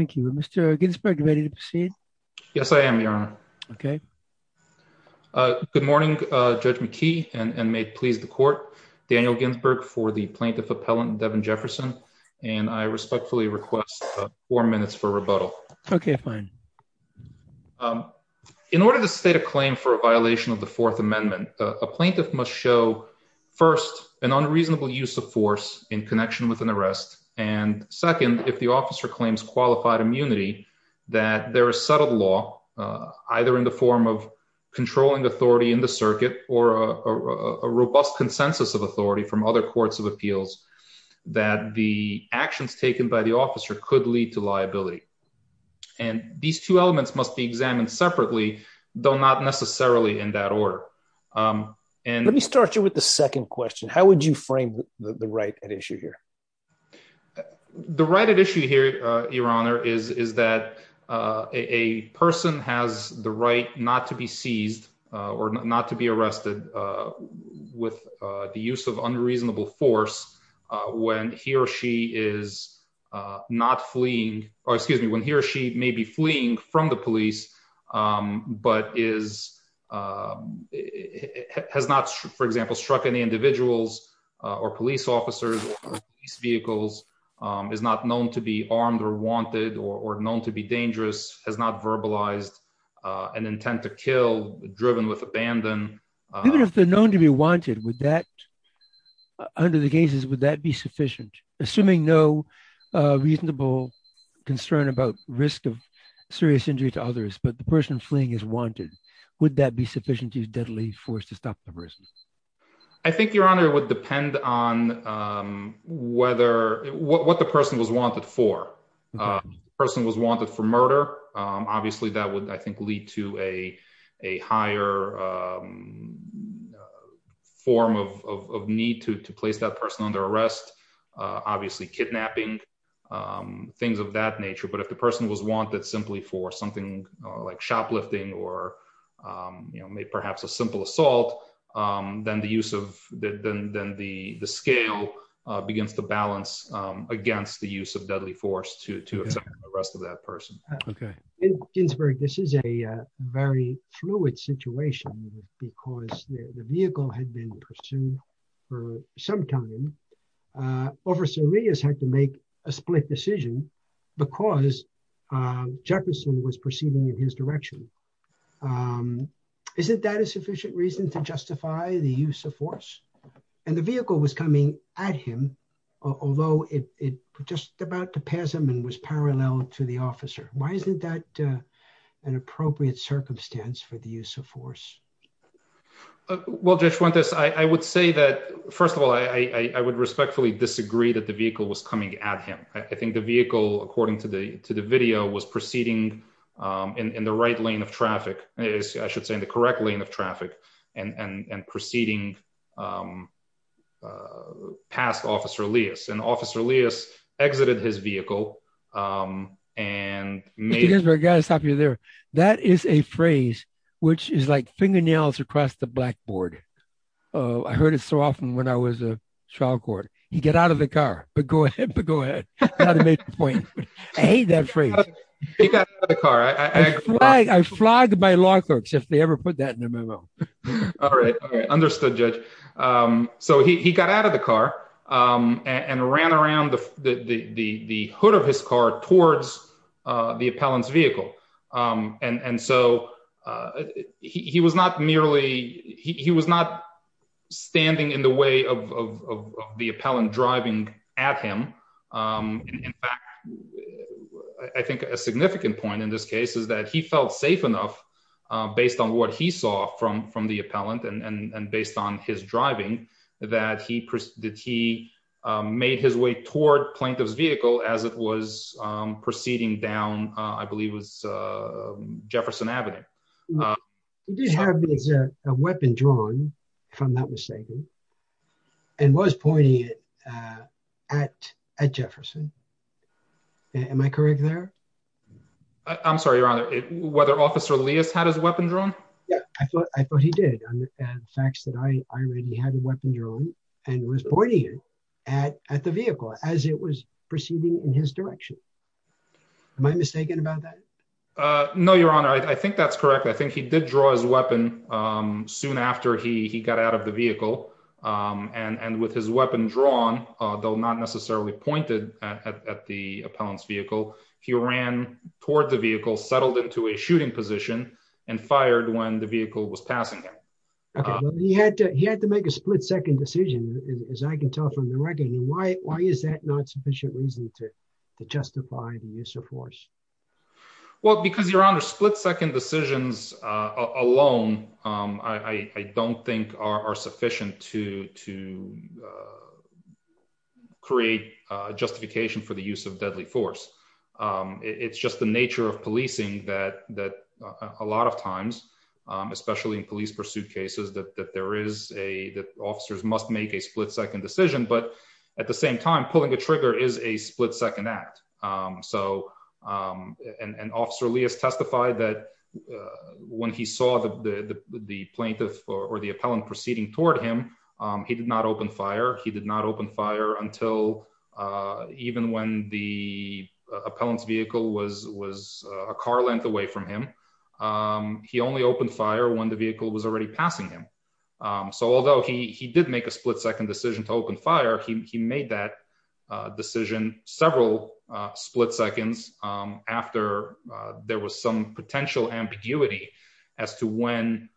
Thank you. Mr. Ginsberg ready to proceed? Yes, I am. Okay. Good morning, Judge McKee and may it please the court, Daniel Ginsberg for the plaintiff appellant, Devin Jefferson. And I respectfully request four minutes for rebuttal. Okay, fine. In order to state a claim for a violation of the Fourth Amendment, a plaintiff must show first an unreasonable use of force in connection with an arrest. And second, if the officer claims qualified immunity, that there is settled law, either in the form of controlling authority in the circuit or a robust consensus of authority from other courts of appeals, that the actions taken by the officer could lead to liability. And these two elements must be examined separately, though not necessarily in that order. And let me start you with the second question, would you frame the right at issue here? The right at issue here, Your Honor, is that a person has the right not to be seized, or not to be arrested with the use of unreasonable force, when he or she is not fleeing, or excuse me, when he or she may be fleeing from the police, but is has not, for example, struck any individuals or police officers, police vehicles, is not known to be armed or wanted or known to be dangerous, has not verbalized an intent to kill driven with abandon. Even if they're known to be wanted, would that, under the cases, would that be sufficient, assuming no reasonable concern about risk of serious injury to others, but the person fleeing is wanted? Would that be sufficient to use deadly force to stop the person? I think, Your Honor, it would depend on whether what the person was wanted for, person was wanted for murder, obviously, that would, I think, lead to a higher form of need to place that person under arrest, obviously, kidnapping, things of that nature. But if the person was wanted simply for something like shoplifting, or, you know, perhaps a simple assault, then the use of the then the scale begins to balance against the use of deadly force to the rest of that person. Okay, Ginsburg, this is a very fluid situation, because the vehicle had been pursued for some time. Officer Rios had to make a split decision, because Jefferson was proceeding in his direction. Isn't that a sufficient reason to justify the use of force? And the vehicle was coming at him, although it just about to pass him and was parallel to the officer. Why isn't that an appropriate circumstance for the use of force? Well, Judge Fuentes, I would say that, first of all, I would respectfully disagree that the vehicle was coming at him. I think the vehicle, according to the video, was proceeding in the right lane of traffic is I should say, in the correct lane of traffic and proceeding past Officer Rios and Officer Rios exited his vehicle. And I gotta stop you there. That is a phrase, which is like fingernails across the blackboard. I heard it so often when I was a child court, you get out of the car, but go ahead. But go ahead. I hate that phrase. I flagged my law clerks if they ever put that in a memo. All right. Understood, Judge. So he got out of the car and ran around the hood of his car towards the appellant's vehicle. And so he was not merely he was not standing in the way of the appellant driving at him. In fact, I think a significant point in this case is that he felt safe enough based on what he saw from the appellant and based on his driving that he made his way toward plaintiff's vehicle as it was proceeding down, I believe it was Jefferson Avenue. He did have a weapon drawn, if I'm not mistaken, and was pointing it at Jefferson. Am I correct there? I'm sorry, Your Honor, whether Officer Rios had his weapon drawn? Yeah, I thought he did. The facts that I read, he had a weapon drawn and was pointing it at the vehicle as it was proceeding in his direction. Am I mistaken about that? No, Your Honor, I think that's correct. I think he did draw his weapon soon after he got out of the vehicle. And with his weapon drawn, though not necessarily pointed at the appellant's vehicle, he ran toward the vehicle, settled into a shooting position and fired when the vehicle was passing him. He had to make a split second decision, as I can tell from the record. Why is that not sufficient reason to justify the use of force? Well, because, Your Honor, split second decisions alone, I don't think are sufficient to create justification for the use of deadly force. It's just the nature of policing that a lot of times, especially in police pursuit cases, that officers must make a split second decision, but at the same time, pulling the trigger is a split second act. And Officer Rios testified that when he saw the plaintiff or the appellant proceeding toward him, he did not open fire. He did not open fire until even when the appellant's vehicle was a car length away from him. He only opened fire when the vehicle was already passing him. So although he did make a split second decision to open fire, he made that decision several split seconds after there was some potential ambiguity as to when,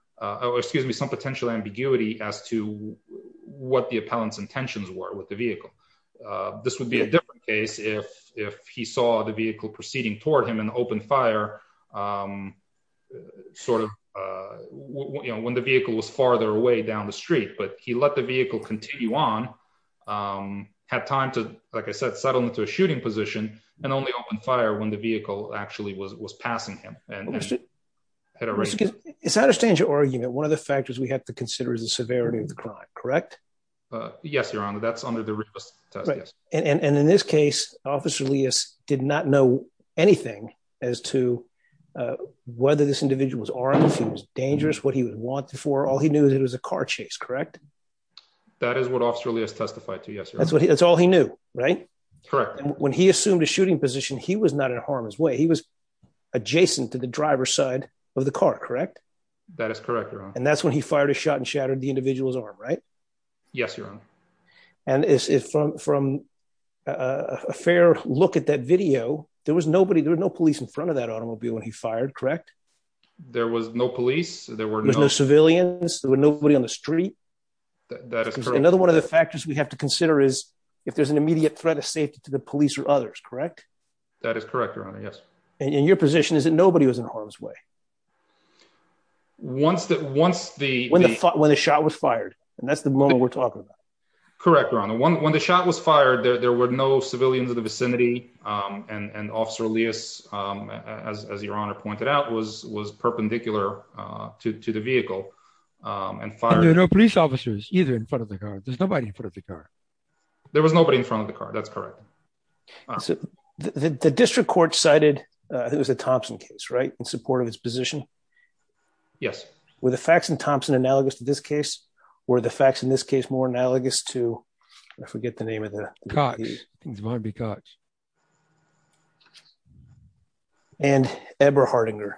excuse me, some potential ambiguity as to what the appellant's intentions were with the vehicle. This would be a different case if he saw the vehicle proceeding toward him and opened fire, sort of, you know, when the vehicle was farther away down the street, but he let the vehicle continue on, had time to, like I said, settle into a shooting position, and only opened fire when the vehicle actually was passing him. It's out of standard argument, one of the factors we have to consider is the severity of the crime, correct? Yes, Your Honor, that's under the request. And in this case, Officer Rios did not know anything as to whether this individual was armed, if he was dangerous, what he was wanted for, all he knew that it was a car chase, correct? That is what Officer Rios testified to, yes, Your Honor. That's what he, that's all he knew, right? Correct. And when he assumed a shooting position, he was not in harm's way, he was adjacent to the driver's side of the car, correct? That is correct, Your Honor. And that's when he fired a shot and shattered the individual's arm, right? Yes, Your Honor. And is it from a fair look at that video, there was nobody, there was no police in front of that automobile when he fired, correct? There was no police, there was no civilians, there was nobody on the street. That is correct. Another one of the factors we have to consider is if there's an immediate threat of safety to the police or others, correct? That is correct, Your Honor, yes. And your position is that nobody was in harm's way? Once the... When the shot was fired, and that's the moment we're talking about. Correct, Your Honor. When the shot was fired, there were no civilians in the vicinity and Officer Elias, as Your Honor pointed out, was perpendicular to the vehicle and fired... And there were no police officers either in front of the car, there's nobody in front of the car. There was nobody in front of the car, that's correct. So the district court cited, I think it was a Thompson case, right? In support of his position? Yes. Were the facts in Thompson analogous to this case? Were the facts in this case more analogous to, I forget the name of the... Cox, I think it's Barnaby Cox. And Eberhardinger?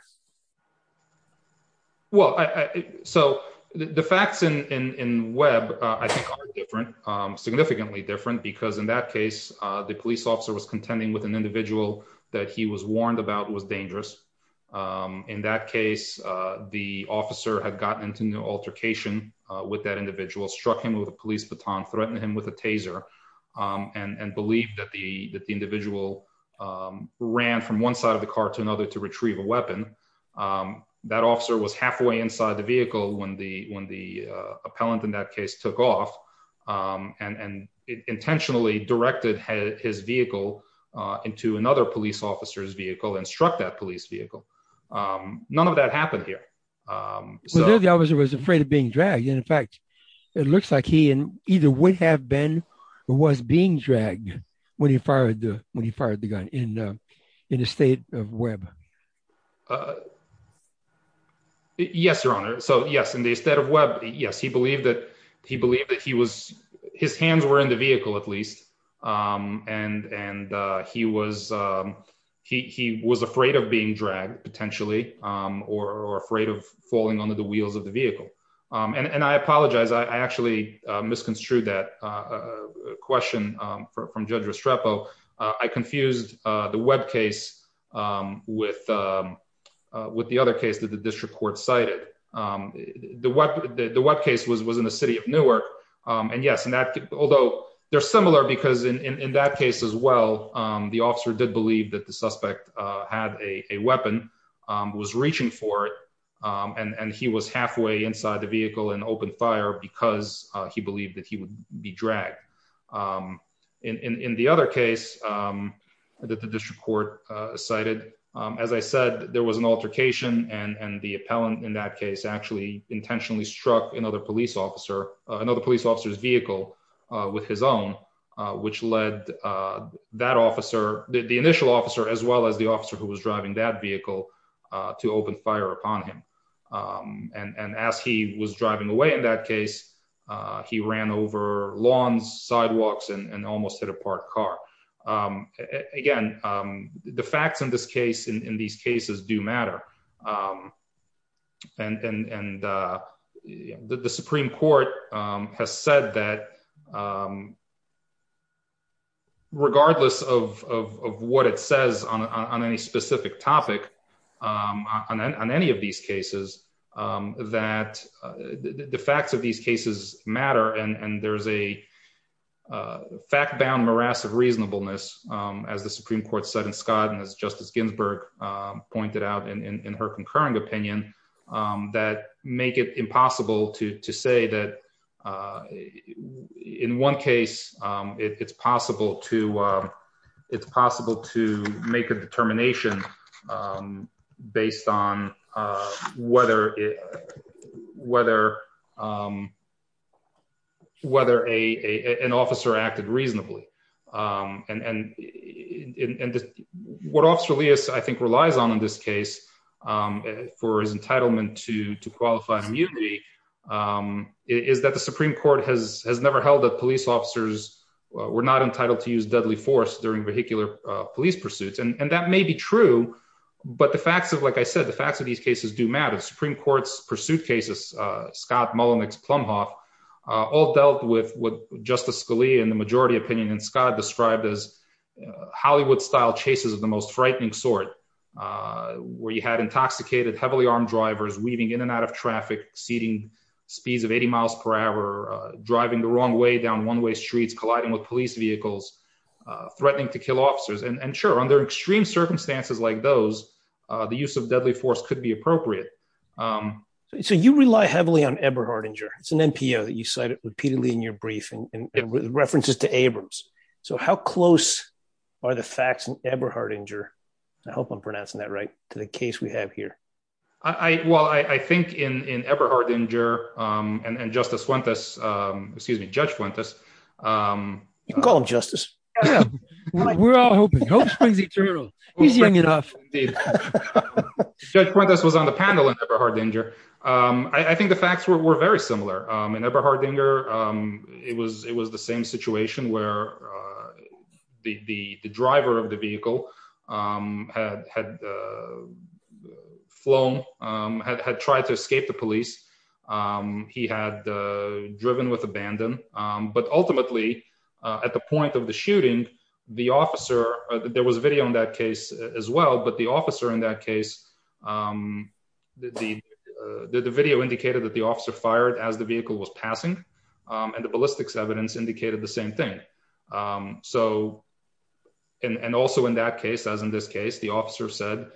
Well, so the facts in Webb, I think are different, significantly different, because in that case, the police officer was contending with an individual that he was warned about was dangerous. In that case, the officer had gotten into an altercation with that individual, struck him with a police baton, threatened him with a taser, and believed that the individual ran from one side of the car to another to retrieve a weapon. That officer was halfway inside the vehicle when the appellant in that case took off and intentionally directed his vehicle into another police officer's vehicle and struck that police vehicle. None of that happened here. So the officer was afraid of being dragged. And in fact, it looks like he either would have been or was being dragged when he fired the gun in the state of Webb. Yes, Your Honor. So yes, in the state of Webb, yes, he believed that he was... His hands were in the vehicle, at least. And he was afraid of and I apologize, I actually misconstrued that question from Judge Restrepo. I confused the Webb case with the other case that the district court cited. The Webb case was in the city of Newark. And yes, although they're similar, because in that case as well, the officer did believe that suspect had a weapon, was reaching for it. And he was halfway inside the vehicle and opened fire because he believed that he would be dragged. In the other case that the district court cited, as I said, there was an altercation and the appellant in that case actually intentionally struck another police officer, another police officer's vehicle with his own, which led that initial officer as well as the officer who was driving that vehicle to open fire upon him. And as he was driving away in that case, he ran over lawns, sidewalks, and almost hit a parked car. Again, the facts in this case, in these cases do matter. And the Supreme Court has said that regardless of what it says on any specific topic, on any of these cases, that the facts of these cases matter. And there's a fact bound morass of reasonableness, as the Supreme Court said in Scott and as Justice Ginsburg pointed out in her concurring opinion, that make it impossible to it's possible to make a determination based on whether an officer acted reasonably. And what Officer Elias, I think, relies on in this case for his entitlement to qualify immunity is that the Supreme Court has never held that police officers were not entitled to use deadly force during vehicular police pursuits. And that may be true, but the facts of, like I said, the facts of these cases do matter. The Supreme Court's pursuit cases, Scott, Mullen, Plumhoff, all dealt with what Justice Scalia in the majority opinion and Scott described as Hollywood style chases of the most frightening sort, where you had intoxicated, heavily armed drivers weaving in and out of traffic, exceeding speeds of 80 miles per hour, driving the wrong way down one-way streets, colliding with police vehicles, threatening to kill officers. And sure, under extreme circumstances like those, the use of deadly force could be appropriate. So you rely heavily on Eberhardinger. It's an NPO that you cited repeatedly in your brief and references to Abrams. So how close are the facts in Eberhardinger, I hope I'm pronouncing that right, to the case we have here? I, well, I think in Eberhardinger and Justice Fuentes, excuse me, Judge Fuentes. You can call him Justice. Yeah, we're all hoping. Hope springs eternal. Judge Fuentes was on the panel in Eberhardinger. I think the facts were very similar. In Eberhardinger, it was the same situation where the driver of the vehicle had flown, had tried to escape the police. He had driven with abandon. But ultimately, at the point of the shooting, the officer, there was a video on that case as well, but the officer in that case, the video indicated that the officer fired as the vehicle was passing. And the ballistics evidence indicated the same thing. So, and also in that case, as in this case, the officer said,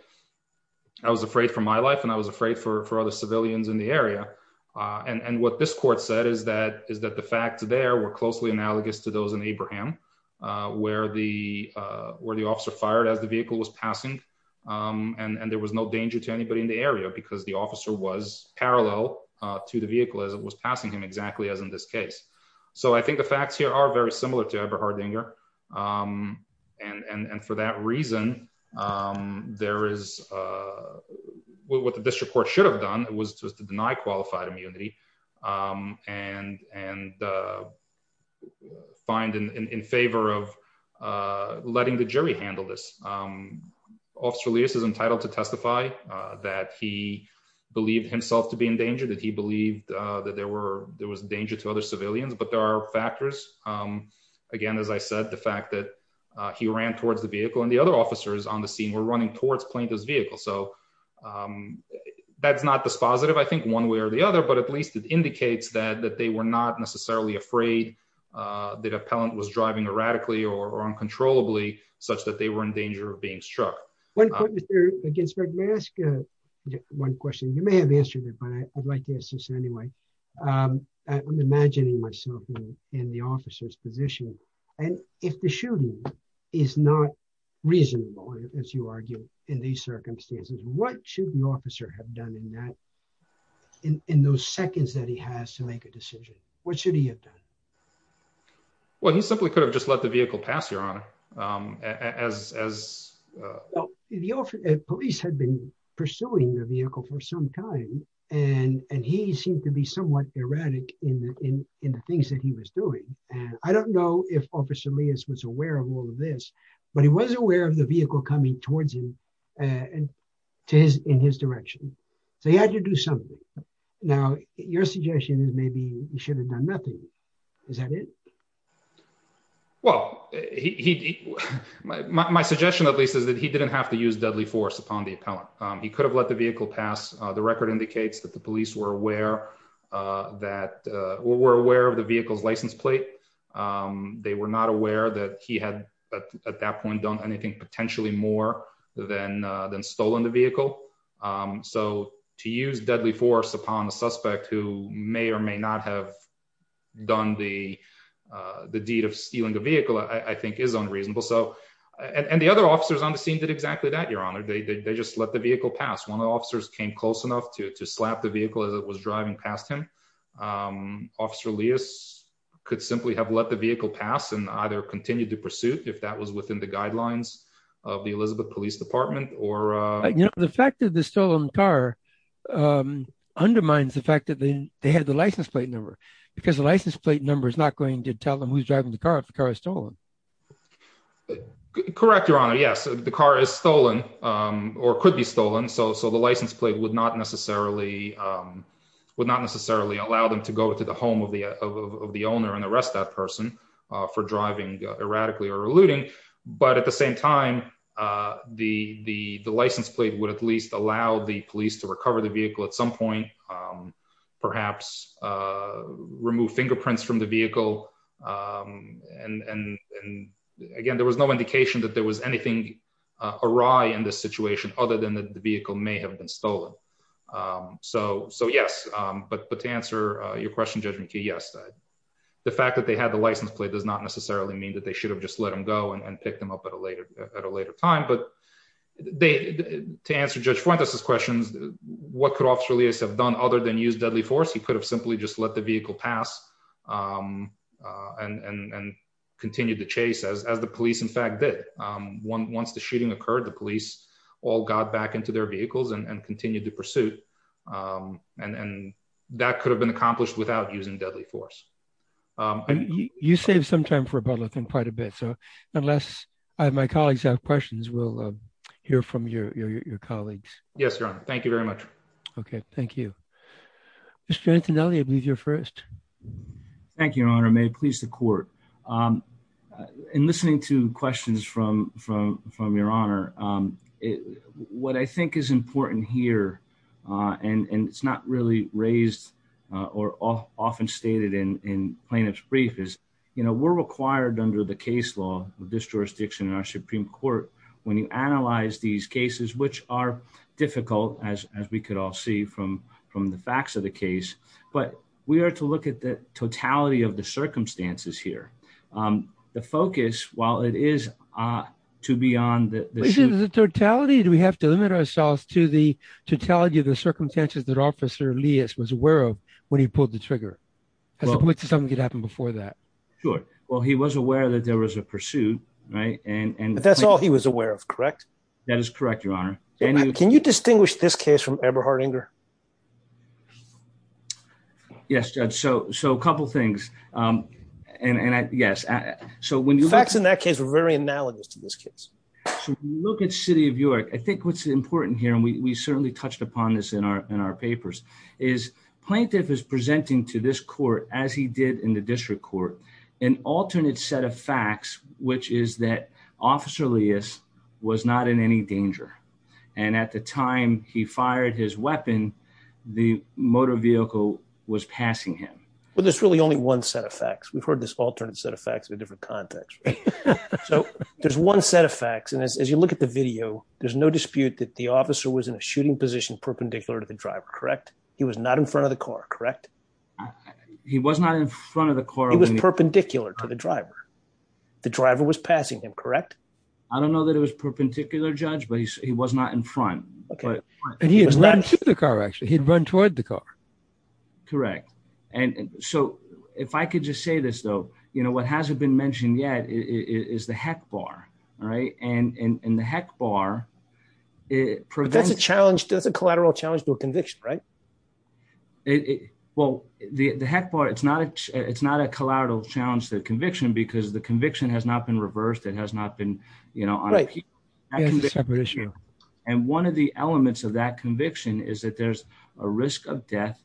I was afraid for my life and I was afraid for other civilians in the area. And what this court said is that the facts there were closely analogous to those in Abraham, where the officer fired as the vehicle was passing. And there was no danger to anybody in the area because the officer was parallel to the vehicle as it was passing him exactly as in this case. So I think the facts here are very similar to Eberhardinger. And for that reason, there is what the district court should have done was to deny qualified immunity and find in favor of believed himself to be in danger that he believed that there were there was danger to other civilians, but there are factors. Again, as I said, the fact that he ran towards the vehicle and the other officers on the scene were running towards plaintiff's vehicle. So that's not dispositive, I think one way or the other, but at least it indicates that that they were not necessarily afraid that appellant was driving erratically or uncontrollably such that they were in danger of One point, Mr. Ginsburg, may I ask one question? You may have answered it, but I'd like to ask this anyway. I'm imagining myself in the officer's position. And if the shooting is not reasonable, as you argue, in these circumstances, what should the officer have done in that in those seconds that he has to make a decision? What should he have done? Well, he simply could have just let the vehicle pass your honor, as the police had been pursuing the vehicle for some time, and he seemed to be somewhat erratic in the in the things that he was doing. And I don't know if Officer Lewis was aware of all of this, but he was aware of the vehicle coming towards him and to his in his direction. So he had to do something. Now, your suggestion is maybe you should have done nothing. Is that it? Well, he, my suggestion, at least, is that he didn't have to use deadly force upon the appellant. He could have let the vehicle pass the record indicates that the police were aware that we're aware of the vehicle's license plate. They were not aware that he had, at that point, done anything potentially more than than stolen the vehicle. So to use deadly force upon the suspect who may or may not have done the the deed of stealing the vehicle, I think is unreasonable. So and the other officers on the scene did exactly that your honor, they just let the vehicle pass one of the officers came close enough to slap the vehicle as it was driving past him. Officer Lewis could simply have let the vehicle pass and either continue to pursue if that was within the guidelines of the Elizabeth Police Department or the fact that the stolen car undermines the fact that they had the license plate number because the license plate number is not going to tell them who's driving the car if the car is stolen. Correct, your honor. Yes, the car is stolen or could be stolen. So so the license plate would not necessarily would not necessarily allow them to go to the home of the of the owner and arrest that person for driving erratically or eluding. But at the same time, the the license plate would at least allow the police to recover the vehicle at some point, perhaps remove fingerprints from the vehicle. And again, there was no indication that there was anything awry in this situation other than the vehicle may have been stolen. So So yes, but but to answer your question, yes, the fact that they had the license plate does not necessarily mean that they should have just let them go and pick them up at a later at a later time. But they to answer Judge Fuentes questions, what could officer Lewis have done other than use deadly force? He could have simply just let the vehicle pass and continue to chase as the police, in fact, that once the shooting occurred, the police all got back into their vehicles and continued to pursue. And that could have been accomplished without using deadly force. And you save some time for about looking quite a bit. So unless I have my colleagues have questions, we'll hear from your colleagues. Yes, Your Honor. Thank you very much. Okay, thank you. Mr. Antonelli, I believe you're first. Thank you, Your Honor. May please the court. In listening to questions from from from Your Honor, what I think is important here and and it's not really raised or often stated in in plaintiff's brief is, you know, we're required under the case law of this jurisdiction in our Supreme Court when you analyze these cases, which are difficult as as we could all see from from the facts of the case. But we are to look at the totality of the circumstances here. The focus, while it is to be on the totality, do we have to limit ourselves to the totality of the circumstances that Officer Elias was aware of when he pulled the trigger as opposed to something that happened before that? Sure. Well, he was aware that there was a pursuit. Right. And that's all he was aware of. Correct. That is correct, Your Honor. Can you distinguish this case from Eberhardinger? Yes, Judge. So so a couple of things. And yes, so when you facts in that case were very analogous to this case. So look at City of York. I think what's important here, and we certainly touched upon this in our in our papers, is plaintiff is presenting to this court, as he did in the district court, an alternate set of facts, which is that Officer Elias was not in any danger. And at the time he fired his weapon, the motor vehicle was passing him. Well, there's really only one set of facts. We've heard this alternate set of facts in a different context. So there's one set of facts. And as you look at the video, there's no dispute that the officer was in a shooting position perpendicular to the driver. Correct. He was not in front of the car. Correct. He was not in front of the car. He was perpendicular to the driver. The driver was passing him. Correct. I don't know that it was perpendicular, Judge, but he was not in front. And he had run to the car, actually. He'd run toward the car. Correct. And so if I could just say this, though, you know, what hasn't been mentioned yet is the heck bar. All right. And in the heck bar, it prevents a challenge. That's a collateral challenge to a conviction. Right. Well, the heck bar, it's not it's not a collateral challenge to conviction because the conviction has not been reversed. It has not been, you know, on a separate issue. And one of the elements of that conviction is that there's a risk of death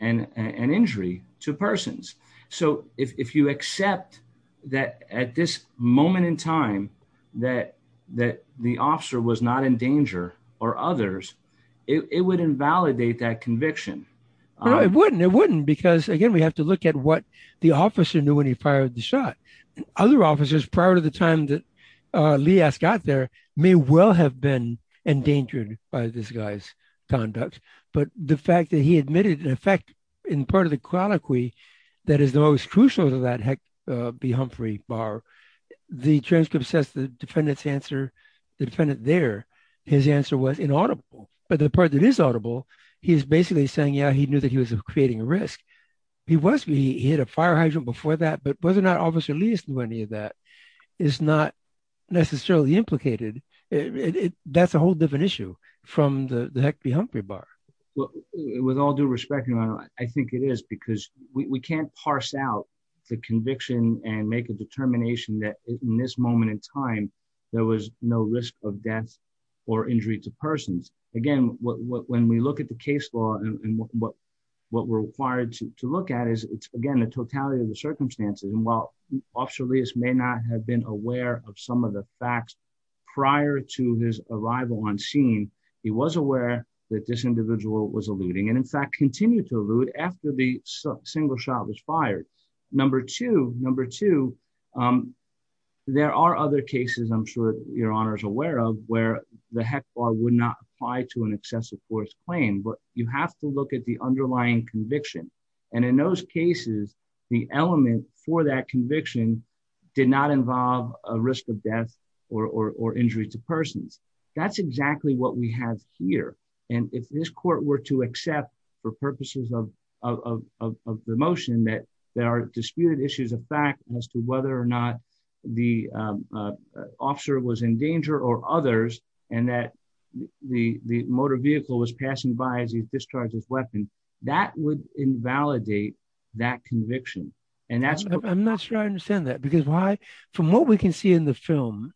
and an injury to persons. So if you accept that at this moment in time, that that the officer was not in danger or others, it would invalidate that conviction. No, it wouldn't. It wouldn't. Because, again, we have to look at what the officer knew when he fired the shot. Other officers prior to the time that Lee got there may well have been endangered by this guy's conduct. But the fact that he admitted, in effect, in part of the colloquy that is the most crucial to that heck be Humphrey bar, the transcript says the defendant's answer, the defendant there, his answer was inaudible. But the part that is audible, he's basically saying, yeah, he knew that he was creating a risk. He was. He had a fire hydrant before that. But whether or not officer Lee knew any of that is not necessarily implicated. That's a whole different issue from the heck be Humphrey bar. With all due respect, I think it is because we can't parse out the conviction and make a determination that in this moment in time, there was no risk of death or injury to persons. Again, when we look at the case law and what we're required to look at is, again, the totality of the circumstances. And while officer Lee may not have been aware of some of the facts prior to his arrival on scene, he was aware that this individual was alluding and, in fact, continued to allude after the single shot was fired. Number two, number two, there are other cases I'm sure your honor is aware of where the heck bar would not apply to an excessive force claim. But you have to look at the underlying conviction. And in those cases, the element for that conviction did not involve a risk of death or injury to persons. That's exactly what we have here. And if this court were to accept for purposes of the motion that there are disputed issues of fact as to whether or not the officer was in danger or others, and that the motor vehicle was passing by as he discharged his weapon, that would invalidate that conviction. And that's I'm not sure I understand that, because why, from what we can see in the film,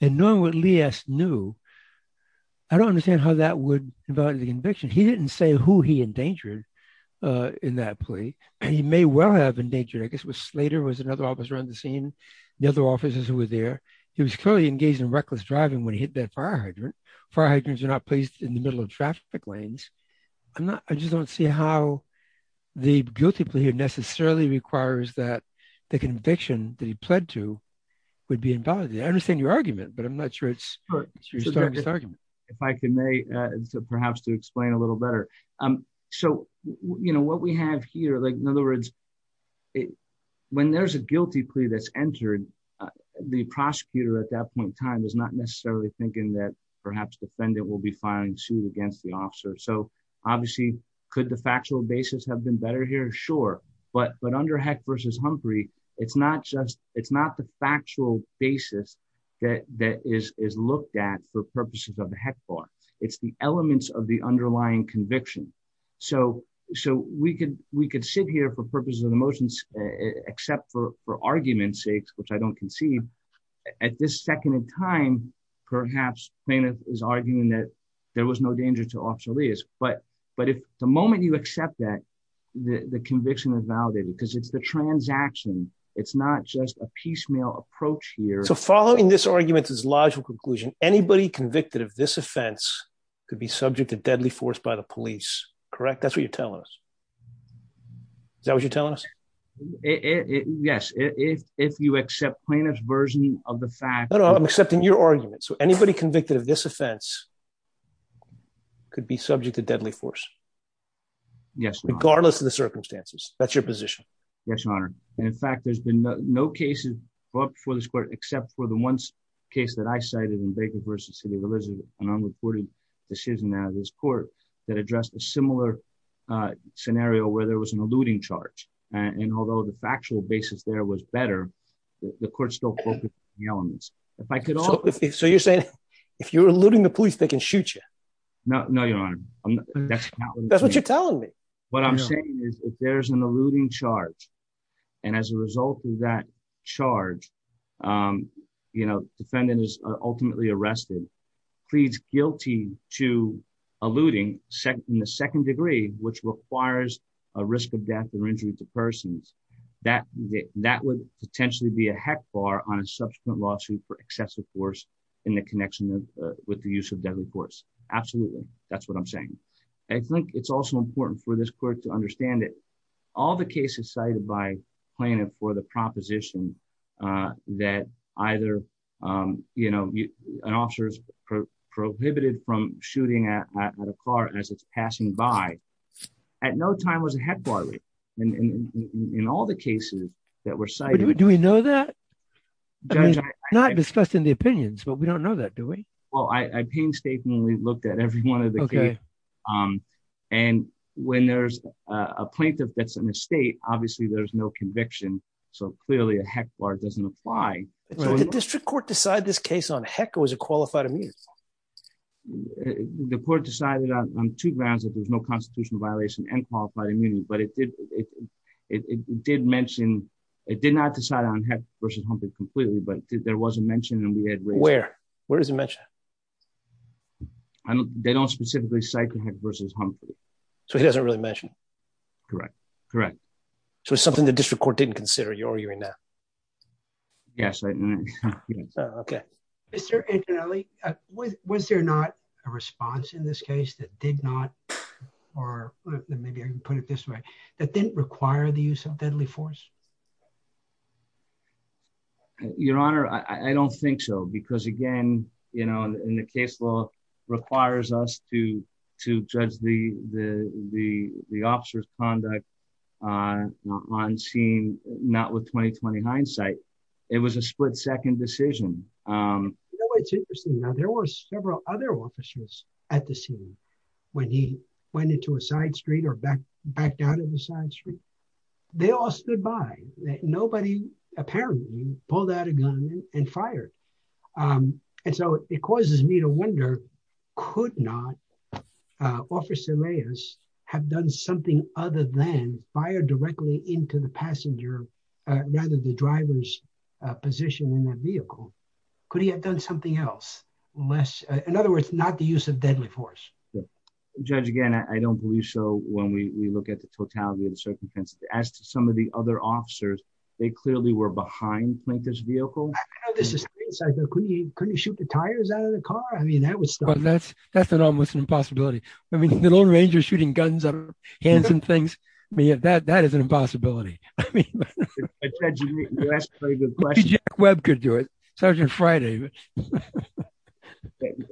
and knowing what Lee knew, I don't understand how that would invalidate the conviction. He didn't say who he endangered in that plea. And he may well have endangered, I guess, was Slater was another officer on the scene. The other officers who were there, he was clearly engaged in reckless driving when he hit that fire hydrant. Fire hydrants are not placed in the middle of traffic lanes. I'm not I just don't see how the guilty plea necessarily requires that the conviction that he pled to would be invalid. I understand your argument, but I'm not sure it's your argument. If I can, perhaps to explain a little better. So, you know, what we have here, like, in other words, when there's a guilty plea that's entered, the prosecutor at that point in time is not necessarily thinking that perhaps defendant will be filing suit against the officer. So obviously, could the factual basis have been better here? Sure. But but under heck versus Humphrey, it's not just it's not the factual basis that that is is looked at for purposes of the heck bar. It's the elements of the underlying conviction. So so we could we could sit here for purposes of the motions, except for for argument sakes, which I don't conceive. At this second time, perhaps plaintiff is arguing that there was no danger to obsolete is but but if the moment you accept that the conviction is validated, because it's the transaction, it's not just a piecemeal approach here. So following this argument is logical conclusion, anybody convicted of this offense could be subject to deadly force by the police. Correct. That's what you're telling us. That was you're telling us? Yes, if you accept plaintiff's version of the fact that I'm accepting your argument. So anybody convicted of this offense could be subject to deadly force. Yes, regardless of the circumstances. That's your position. Yes, Your Honor. And in fact, there's been no cases brought before this court except for the one case that I cited in Baker versus City of Elizabeth, an unreported decision out of this court that addressed a similar scenario where there was an eluding charge. And although the factual basis there was better, the court still focused on the elements. If I could, so you're saying, if you're eluding the police, they can shoot you? No, no, Your Honor. That's what you're telling me. What I'm saying is, if there's an eluding charge, and as a result of that charge, you know, defendant is ultimately arrested, pleads guilty to eluding second, the second degree, which requires a risk of death or injury to persons, that that would potentially be a heck bar on a subsequent lawsuit for excessive force in the connection with the use of deadly force. Absolutely. That's what I'm saying. I think it's also important for this court to understand that all the cases cited by plaintiff for the proposition that either, you know, an officer is prohibited from shooting at a car as it's passing by, at no time was a heck bar in all the cases that were cited. Do we know that? Not discussed in the opinions, but we don't know that, do we? Well, I painstakingly looked at every one of them. And when there's a plaintiff that's in the state, obviously, there's no conviction. So clearly, a heck bar doesn't apply. The district court decide this case on heck was a qualified immune. The court decided on two grounds that there's no constitutional violation and qualified immunity, but it did. It did mention, it did not decide on heck versus Humphrey completely, but there was a mention and we had where, where does it mention? They don't specifically cycle heck versus Humphrey. So he doesn't really mention? Correct. Correct. So it's something the district court didn't consider you're arguing that? Yes. Okay. Mr. Antonelli, was there not a response in this case that did not, or maybe I can put it this way, that didn't require the use of deadly force? Your Honor, I don't think so. Because again, in the case law requires us to judge the officer's on scene, not with 20, 20 hindsight. It was a split second decision. You know, it's interesting. Now, there were several other officers at the scene. When he went into a side street or back, back down in the side street, they all stood by that nobody, apparently pulled out a gun and fired. And so it causes me to wonder, could not Officer Reyes have done something other than fire directly into the passenger, rather the driver's position in that vehicle. Could he have done something else? Unless in other words, not the use of deadly force. Judge, again, I don't believe so. When we look at the totality of the circumstances, as to some of the other officers, they clearly were behind this vehicle. Couldn't shoot the tires out of the car. I mean, that was that's, that's an almost an impossibility. I mean, the lone ranger shooting guns, hands and things. I mean, that that is an impossibility. Web could do it. Sergeant Friday.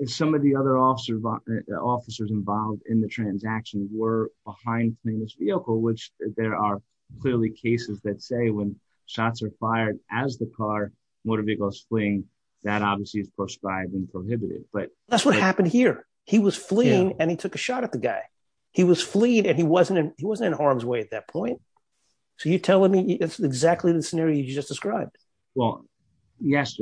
Some of the other officers involved in the transaction were behind this vehicle, which there are clearly cases that say when shots are fired as the car motor vehicles fleeing, that obviously is prescribed and prohibited. But that's what happened here. He was fleeing and he took a shot at the guy. He was fleeing and he wasn't he wasn't in harm's way at that point. So you tell me exactly the scenario you just described. Well, yes.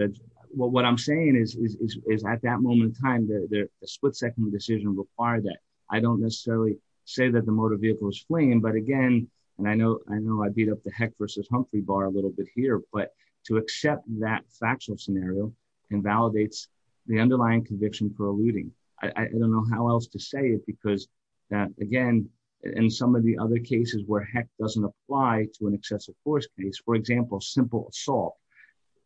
What I'm saying is, is at that moment in time, the split second decision required that I don't necessarily say that the motor vehicle is fleeing. But again, and I know I know I beat up the heck versus Humphrey bar a little bit here. But to accept that factual scenario invalidates the underlying conviction for eluding. I don't know how else to say it, because again, in some of the other cases where heck doesn't apply to an excessive force case, for example, simple assault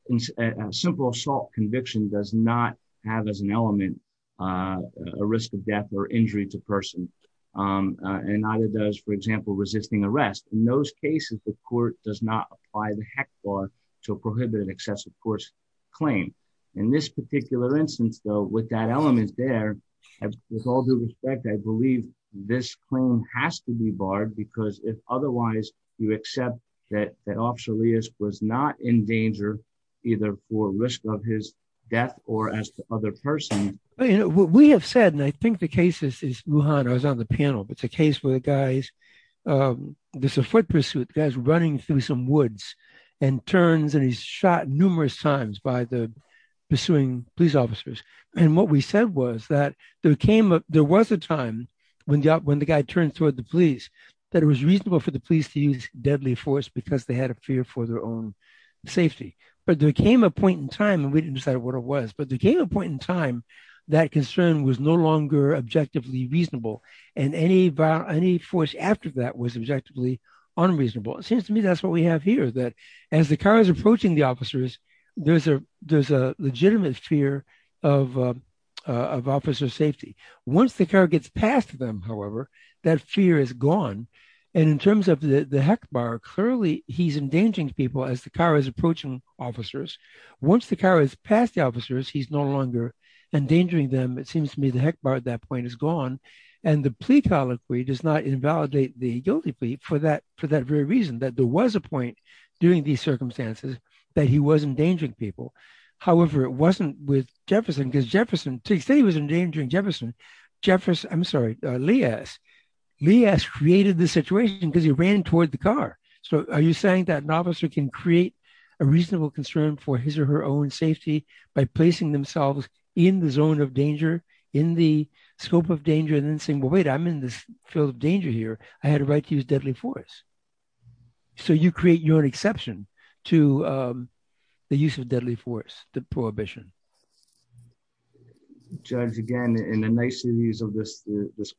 and simple assault conviction does not have as an element a risk of death or injury to person. And neither does, for example, resisting arrest. In those of course, claim in this particular instance, though, with that element there, with all due respect, I believe this claim has to be barred because if otherwise you accept that that officer was not in danger, either for risk of his death or as the other person. What we have said, and I think the cases is on the panel. It's a case where guys there's a foot pursuit guys running through some woods and turns and he's shot numerous times by the pursuing police officers. And what we said was that there was a time when the guy turned toward the police, that it was reasonable for the police to use deadly force because they had a fear for their own safety. But there came a point in time and we didn't decide what it was, but there came a point in time that concern was no longer objectively reasonable. And any force after that was objectively unreasonable. It seems to me that's what we have here that as the car is approaching the officers, there's a legitimate fear of officer safety. Once the car gets past them, however, that fear is gone. And in terms of the heck bar, clearly he's endangering people as the car is approaching officers. Once the car is past the officers, he's no longer endangering them. It seems to me the heck bar at that point is gone. And the plea colloquy does not invalidate the guilty plea for that very reason, that there was a point during these circumstances that he was endangering people. However, it wasn't with Jefferson because Jefferson, to say he was endangering Jefferson, I'm sorry, Leas. Leas created the situation because he ran toward the car. So are you saying that an officer can create a reasonable concern for his or her own safety by placing themselves in the zone of danger, in the scope of danger and then saying, well, wait, I'm in this field of danger here. I had a right to use deadly force. So you create your exception to the use of deadly force, the prohibition. Judge, again, in the niceties of this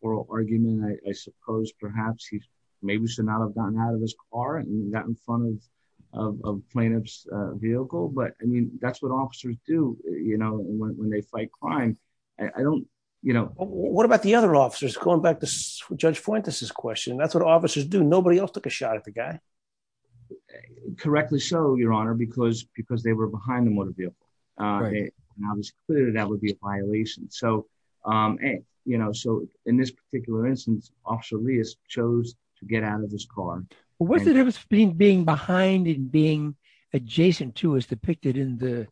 oral argument, I suppose perhaps he maybe should not have gotten out of his car and gotten in front of plaintiff's vehicle. But I mean, that's what officers do when they fight crime. I don't, you know. What about the other officers? Going back to Judge Fuentes' question, that's what officers do. Nobody else took a shot at the guy. Correctly so, your honor, because they were behind the motor vehicle. Now it's clear that would be a violation. So, you know, so in this particular instance, Officer Leas chose to get out of his car. What's the difference between being behind and being adjacent to, as depicted in the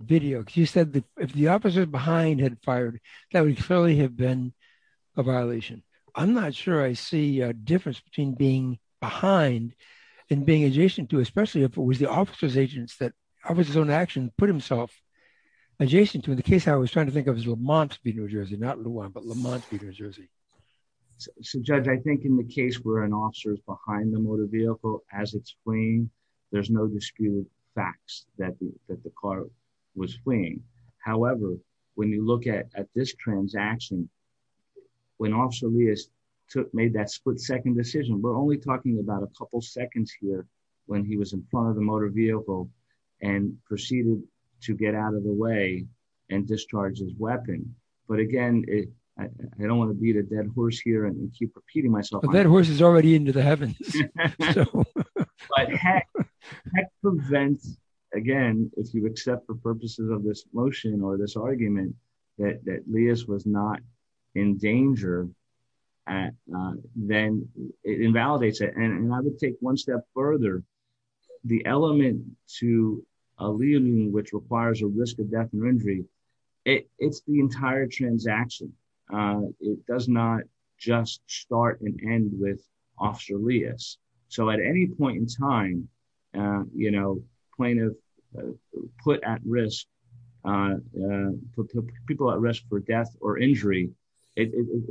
video? Because you said that if the officer behind had fired, that would clearly have been a violation. I'm not sure I see a difference between being behind and being adjacent to, especially if it was the officer's agents, that officer's own action put himself adjacent to. In the case I was trying to think of, it was Lamont Speed, New Jersey, not Lujan, but Lamont Speed, New Jersey. So, Judge, I think in the case where an officer is behind the motor vehicle as it's fleeing, there's no disputed facts that the car was fleeing. However, when you look at this transaction, when Officer Leas made that split-second decision, we're only talking about a couple seconds here when he was in front of the motor vehicle and proceeded to get out of the way and discharge his weapon. But again, I don't want to beat a heavens. But heck, that prevents, again, if you accept the purposes of this motion or this argument, that Leas was not in danger, then it invalidates it. And I would take one step further. The element to a liaison, which requires a risk of death or injury, it's the entire transaction. It does not just start and end with Officer Leas. So, at any point in time, you know, plaintiff put at risk, put people at risk for death or injury,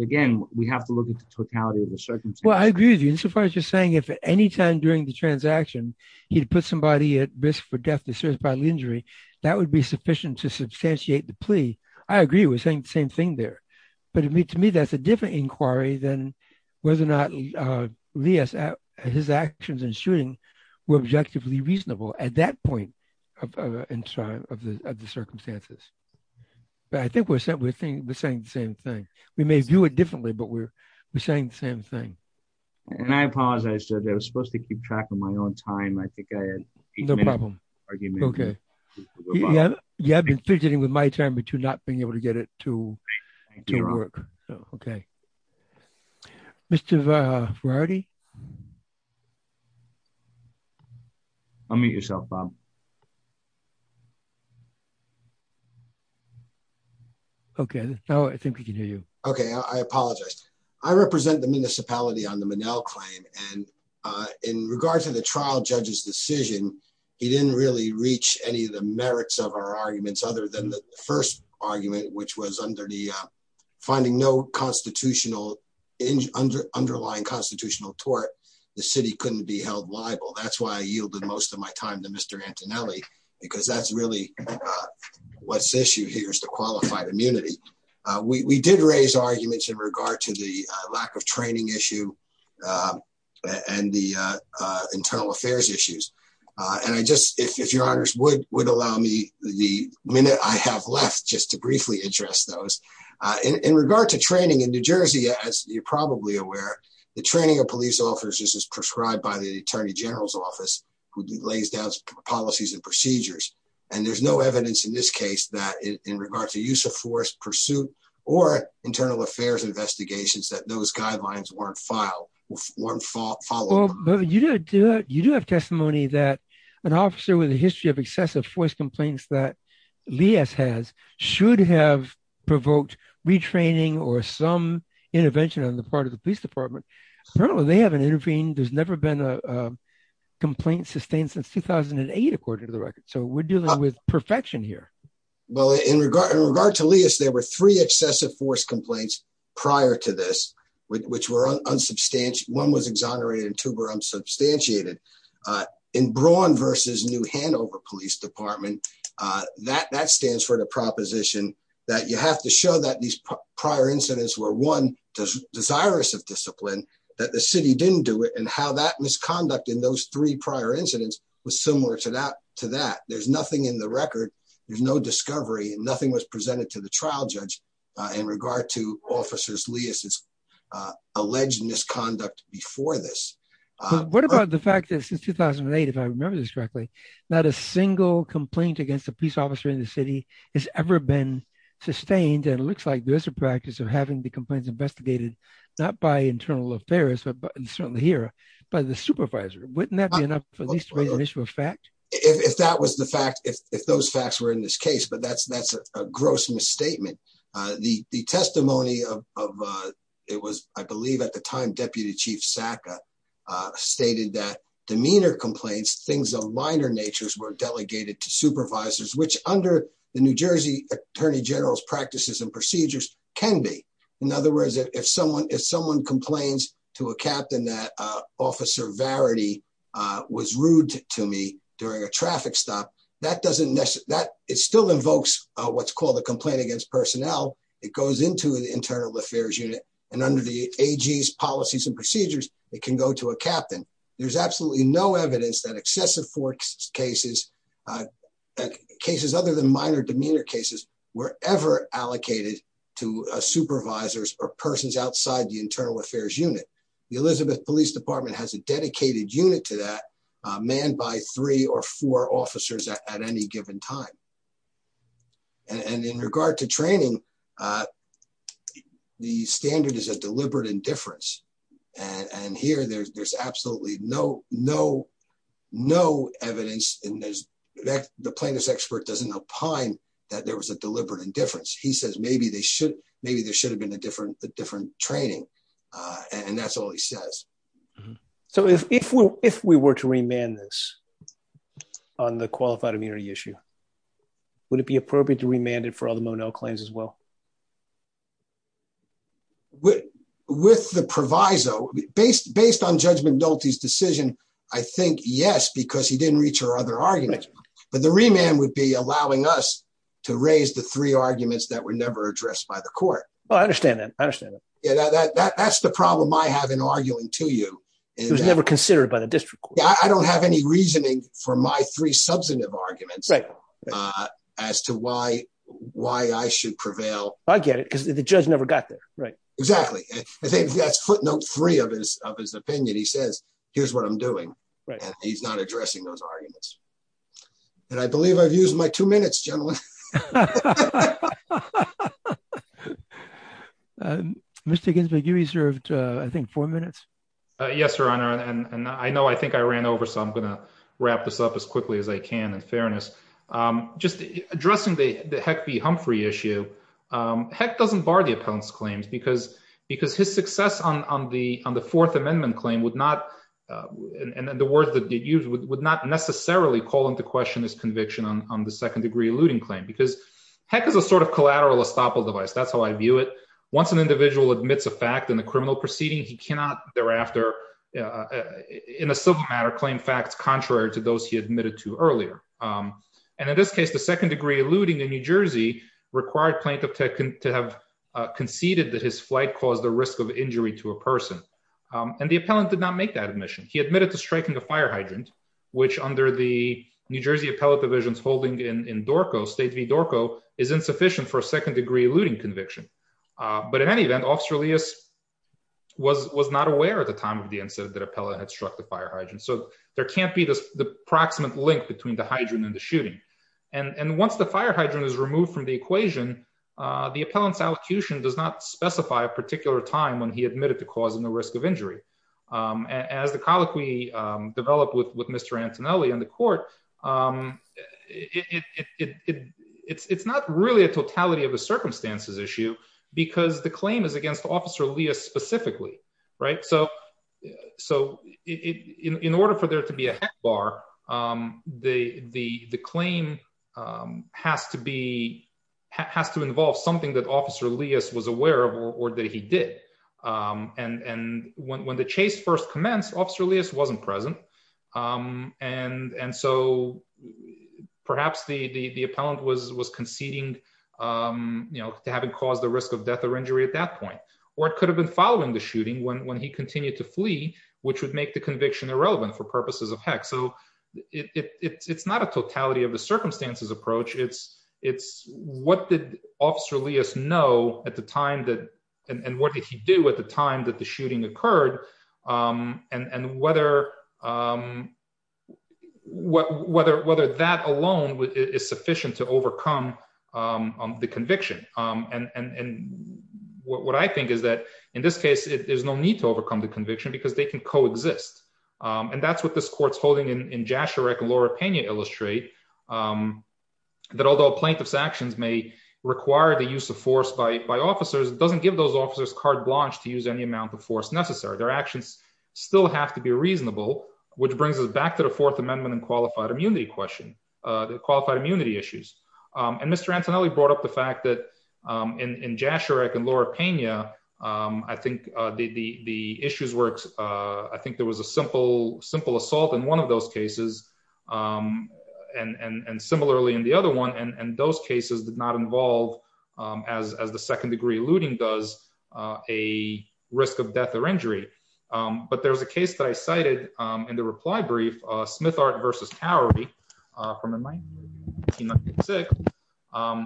again, we have to look at the totality of the circumstances. Well, I agree with you insofar as you're saying if anytime during the transaction he'd put somebody at risk for death to serious bodily injury, that would be sufficient to But to me, that's a different inquiry than whether or not Leas, his actions in shooting were objectively reasonable at that point in time of the circumstances. But I think we're saying the same thing. We may view it differently, but we're saying the same thing. And I apologize. I said I was supposed to keep track of my own time. I think I had No problem. Okay. Yeah, I've been fidgeting with my time between not being able to get it to work. Okay. Mr. Ferrari? Unmute yourself, Bob. Okay, now I think we can hear you. Okay, I apologize. I represent the municipality on the Monell claim. And in regards to the trial judge's decision, he didn't really reach any of the merits of our arguments other than the first argument, which was under the finding no constitutional underlying constitutional tort. The city couldn't be held liable. That's why I yielded most of my time to Mr. Antonelli, because that's really what's issue here is the qualified immunity. We did raise arguments in regard to the lack of training issue and the internal affairs issues. And I just, if your honors would allow me the minute I have left just to briefly address those in regard to training in New Jersey, as you're probably aware, the training of police officers is prescribed by the Attorney General's office, who lays down policies and procedures. And there's no evidence in this case that in regard to use of force pursuit, or internal affairs investigations, that those guidelines weren't filed, weren't followed. You do have testimony that an officer with a history of excessive force complaints that Leas has should have provoked retraining or some intervention on the part of the police department. Apparently they haven't intervened. There's never been a complaint sustained since 2008, according to the record. So we're dealing with perfection Well, in regard to Leas, there were three excessive force complaints prior to this, which were unsubstantiated. One was exonerated and two were unsubstantiated. In Braun versus New Hanover Police Department, that stands for the proposition that you have to show that these prior incidents were one, desirous of discipline, that the city didn't do it. And how that misconduct in those three prior incidents was similar to that. There's nothing in record, there's no discovery and nothing was presented to the trial judge in regard to officers Leas' alleged misconduct before this. What about the fact that since 2008, if I remember this correctly, not a single complaint against a police officer in the city has ever been sustained. And it looks like there's a practice of having the complaints investigated, not by internal affairs, but certainly here by the supervisor. Wouldn't that be enough for this to raise an issue of fact? If that was the fact, if those facts were in this case, but that's a gross misstatement. The testimony of, it was, I believe at the time, Deputy Chief Sacka stated that demeanor complaints, things of minor natures were delegated to supervisors, which under the New Jersey Attorney General's practices and procedures can be. In other words, if someone complains to a captain that officer Varity was rude to me during a traffic stop, that doesn't necessarily, it still invokes what's called a complaint against personnel. It goes into the internal affairs unit and under the AG's policies and procedures, it can go to a captain. There's absolutely no evidence that excessive force cases, cases other than minor demeanor cases, were ever or persons outside the internal affairs unit. The Elizabeth police department has a dedicated unit to that man by three or four officers at any given time. And in regard to training, the standard is a deliberate indifference. And here there's absolutely no evidence. The plaintiff's expert doesn't opine that there was a deliberate indifference. He says, maybe they should have been a different training. And that's all he says. So if we were to remand this on the qualified immunity issue, would it be appropriate to remand it for all the Monell claims as well? With the proviso, based on Judge McDulty's decision, I think yes, because he didn't reach her other arguments. But the remand would be allowing us to raise the three arguments that were never addressed by the court. Oh, I understand that. I understand that. That's the problem I have in arguing to you. It was never considered by the district. I don't have any reasoning for my three substantive arguments as to why I should prevail. I get it because the judge never got there. Right. Exactly. I think that's footnote three of his opinion. He says, here's what I'm doing. Right. He's not addressing those arguments. And I believe I've used my two minutes, gentlemen. Mr. Ginsburg, you reserved, I think, four minutes. Yes, Your Honor. And I know I think I ran over, so I'm going to wrap this up as quickly as I can in fairness. Just addressing the Heck v. Humphrey issue, Heck doesn't bar the appellant's claims because his success on the Fourth Amendment claim would not, and the words that you used, would not necessarily call into question his conviction on second-degree eluding claim because Heck is a sort of collateral estoppel device. That's how I view it. Once an individual admits a fact in the criminal proceeding, he cannot thereafter in a civil matter claim facts contrary to those he admitted to earlier. And in this case, the second-degree eluding in New Jersey required plaintiff to have conceded that his flight caused the risk of injury to a person. And the appellant did not make that admission. He admitted to striking a fire hydrant, which under the New Jersey appellate division's holding in Dorco, State v. Dorco, is insufficient for a second-degree eluding conviction. But in any event, Officer Elias was not aware at the time of the incident that appellant had struck the fire hydrant. So there can't be the proximate link between the hydrant and the shooting. And once the fire hydrant is removed from the equation, the appellant's allocution does not specify a particular time when he admitted to causing the risk of injury. As the colloquy developed with Mr. Antonelli in the court, it's not really a totality of the circumstances issue because the claim is against Officer Elias specifically, right? So in order for there to be a Heck bar, the claim has to involve something that Officer Elias was aware of or that he did. And when the chase first commenced, Officer Elias wasn't present. And so perhaps the appellant was conceding to having caused the risk of death or injury at that point. Or it could have been following the shooting when he continued to flee, which would make the conviction irrelevant for purposes of Heck. So it's not a totality of the circumstances approach. It's what did Officer Elias know at the time and what did he do at the time that the shooting occurred and whether that alone is sufficient to overcome the conviction. And what I think is that in this case, there's no need to overcome the conviction because they can coexist. And that's what this holding in Jasharek and Laura Pena illustrate that although plaintiff's actions may require the use of force by officers, it doesn't give those officers carte blanche to use any amount of force necessary. Their actions still have to be reasonable, which brings us back to the Fourth Amendment and qualified immunity question, the qualified immunity issues. And Mr. Antonelli brought up the fact that in Jasharek and Laura Pena, I think the issues I think there was a simple assault in one of those cases. And similarly, in the other one, and those cases did not involve, as the second degree looting does, a risk of death or injury. But there was a case that I cited in the reply brief, Smithart v. Cowery from 1996,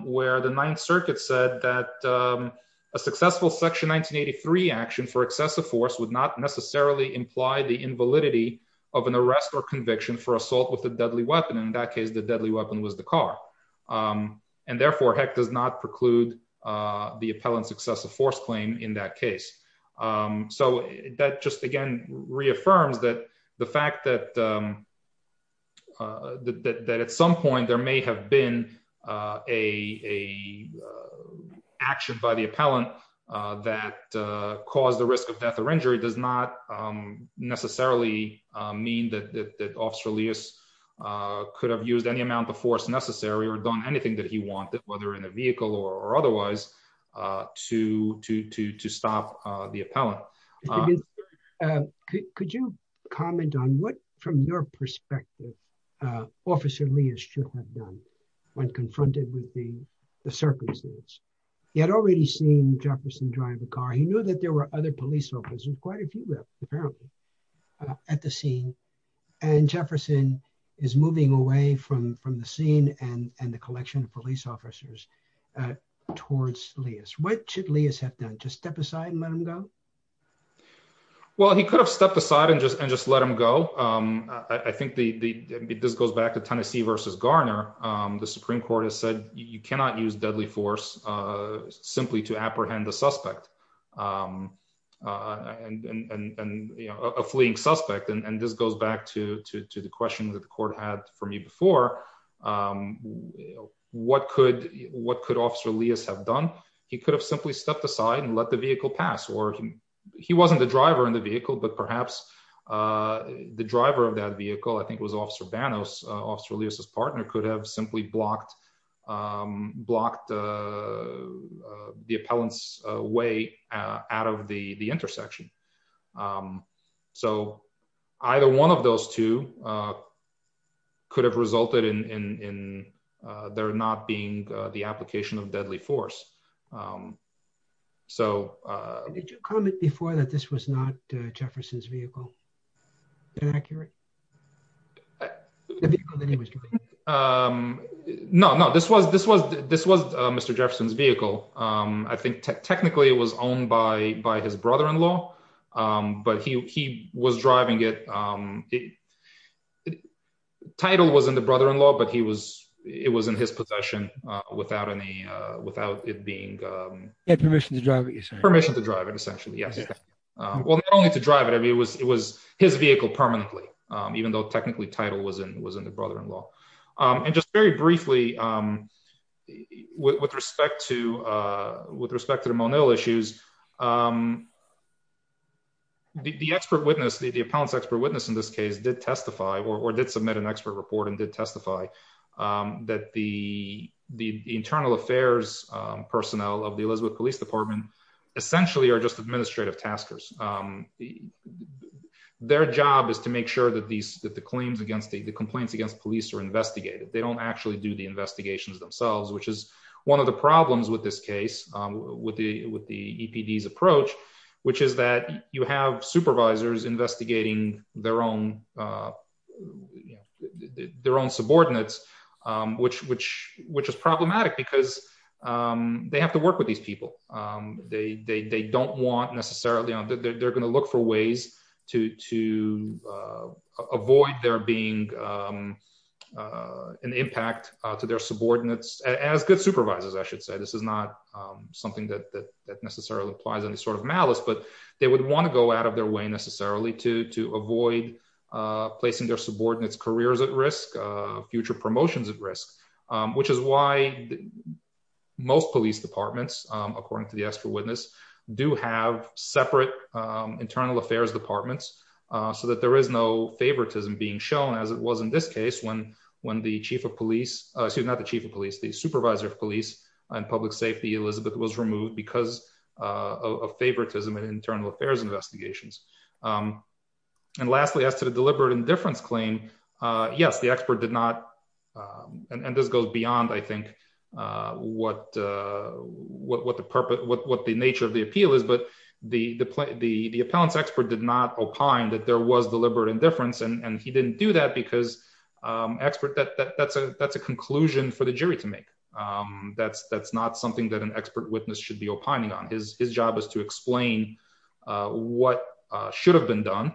where the Ninth Circuit said that a successful Section 1983 action for excessive force would not imply the invalidity of an arrest or conviction for assault with a deadly weapon. In that case, the deadly weapon was the car. And therefore, heck does not preclude the appellant's excessive force claim in that case. So that just again, reaffirms that the fact that at some point, there may have been a action by the appellant that caused the risk of death or injury does not necessarily mean that Officer Lewis could have used any amount of force necessary or done anything that he wanted, whether in a vehicle or otherwise, to stop the appellant. Mr. Ginsburg, could you comment on what, from your perspective, Officer Lewis should have done when confronted with the circumstances? He had already seen Jefferson drive a car. He knew that there were other police officers, quite a few, apparently, at the scene. And Jefferson is moving away from the scene and the collection of police officers towards Lewis. What should Lewis have done? Just step aside and let him go? Well, he could have stepped aside and just let him go. I think this goes back to Tennessee versus Garner. The Supreme Court has said you cannot use deadly force simply to apprehend a suspect and a fleeing suspect. And this goes back to the question that the court had for me before. You know, what could what could Officer Lewis have done? He could have simply stepped aside and let the vehicle pass or he wasn't the driver in the vehicle, but perhaps the driver of that vehicle, I think, was Officer Banos. Officer Lewis's partner could have simply blocked the appellant's way out of the intersection. So either one of those two could have resulted in there not being the application of deadly force. Did you comment before that this was not Jefferson's vehicle? No, no, this was Mr. Jefferson's vehicle. I think technically it was owned by his brother-in-law, but he he was driving it. Title was in the brother-in-law, but he was it was in his possession without any without it being permission to drive. Permission to drive it essentially. Yes. Well, not only to drive it, it was it was his vehicle permanently, even though technically title was in was in the brother-in-law. And just very briefly, with respect to with respect to the Monel issues, the expert witness, the appellant's expert witness in this case did testify or did submit an expert report and did testify that the the internal affairs personnel of the Elizabeth Police Department essentially are just administrative taskers. Their job is to make sure that these that the claims against the complaints against police are investigated. They don't actually do investigations themselves, which is one of the problems with this case, with the with the EPD's approach, which is that you have supervisors investigating their own their own subordinates, which which which is problematic because they have to work with these people. They don't want necessarily on that. They're going to look for ways to to avoid there being an impact to their subordinates as good supervisors. I should say this is not something that that necessarily implies any sort of malice, but they would want to go out of their way necessarily to to avoid placing their subordinates careers at risk, future promotions at risk, which is why most police departments, according to the expert witness, do have separate internal affairs departments so that there is no favoritism being shown, as it was in this case, when when the chief of police, excuse not the chief of police, the supervisor of police and public safety, Elizabeth, was removed because of favoritism and internal affairs investigations. And lastly, as to the deliberate indifference claim, yes, the expert did not. And this goes beyond, I think, what what the purpose, what the nature of the appeal is. But the the the the appellant's expert did not opine that there was deliberate indifference. And he didn't do that because expert that that's a that's a conclusion for the jury to make. That's that's not something that an expert witness should be opining on his his job is to explain what should have been done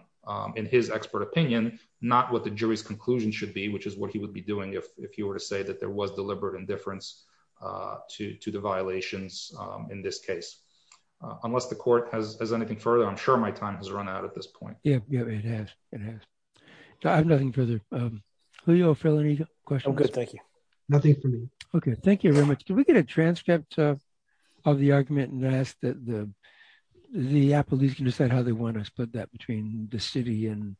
in his expert opinion, not what the jury's conclusion should be, which is what he would be doing if he were to say that there was deliberate indifference to the violations. In this case, unless the court has anything further, I'm sure my time has run out at this point. Yeah, yeah, it has. It has. I have nothing further. Leo, Phil, any questions? Thank you. Nothing for me. OK, thank you very much. Can we get a transcript of the argument and ask that the the police can decide how they want to split that between the city and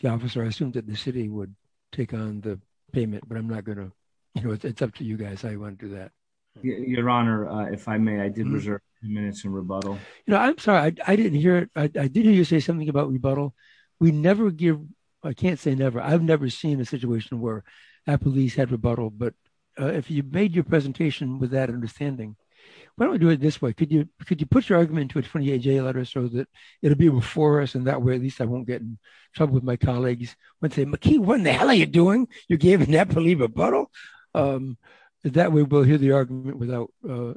the officer? I assume that the city would take on the payment, but I'm not going to. It's up to you guys. I want to do that. Your Honor, if I may, I did reserve minutes in rebuttal. No, I'm sorry. I didn't hear it. I didn't hear you say something about rebuttal. We never give. I can't say never. I've never seen a situation where a police had rebuttal. But if you made your presentation with that understanding, why don't we do it this way? Could you could you put your argument to a 28 day letter so that it'll be before us? And that way, at least I won't get in trouble with my colleagues and say, McKee, what the hell are you doing? You gave Napoli rebuttal. That way, we'll hear the argument without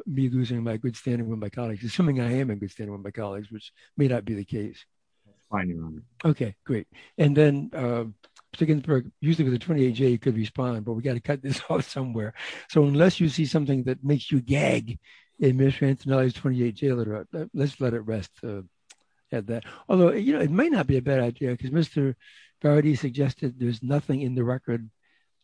me losing my good standing with my colleagues, assuming I am in good standing with my colleagues, which may not be the case. OK, great. And then to get used to the 28 day could respond, but we got to cut this off somewhere. So unless you see something that makes you gag, the administration's 28 day letter, let's let it rest at that. Although it might not be a bad idea because Mr. Verity suggested there's nothing in the record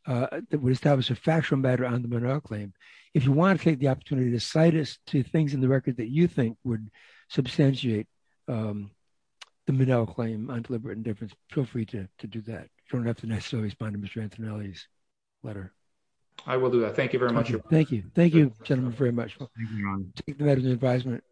that would establish a factual matter on the Monroe claim. If you want to take the opportunity to cite us to things in the record that you think would substantiate the Midell claim on deliberate indifference, feel free to do that. You don't have to necessarily respond to Mr. Antonelli's letter. I will do that. Thank you very much. Thank you. Thank you, gentlemen, very much for taking that as an advisement.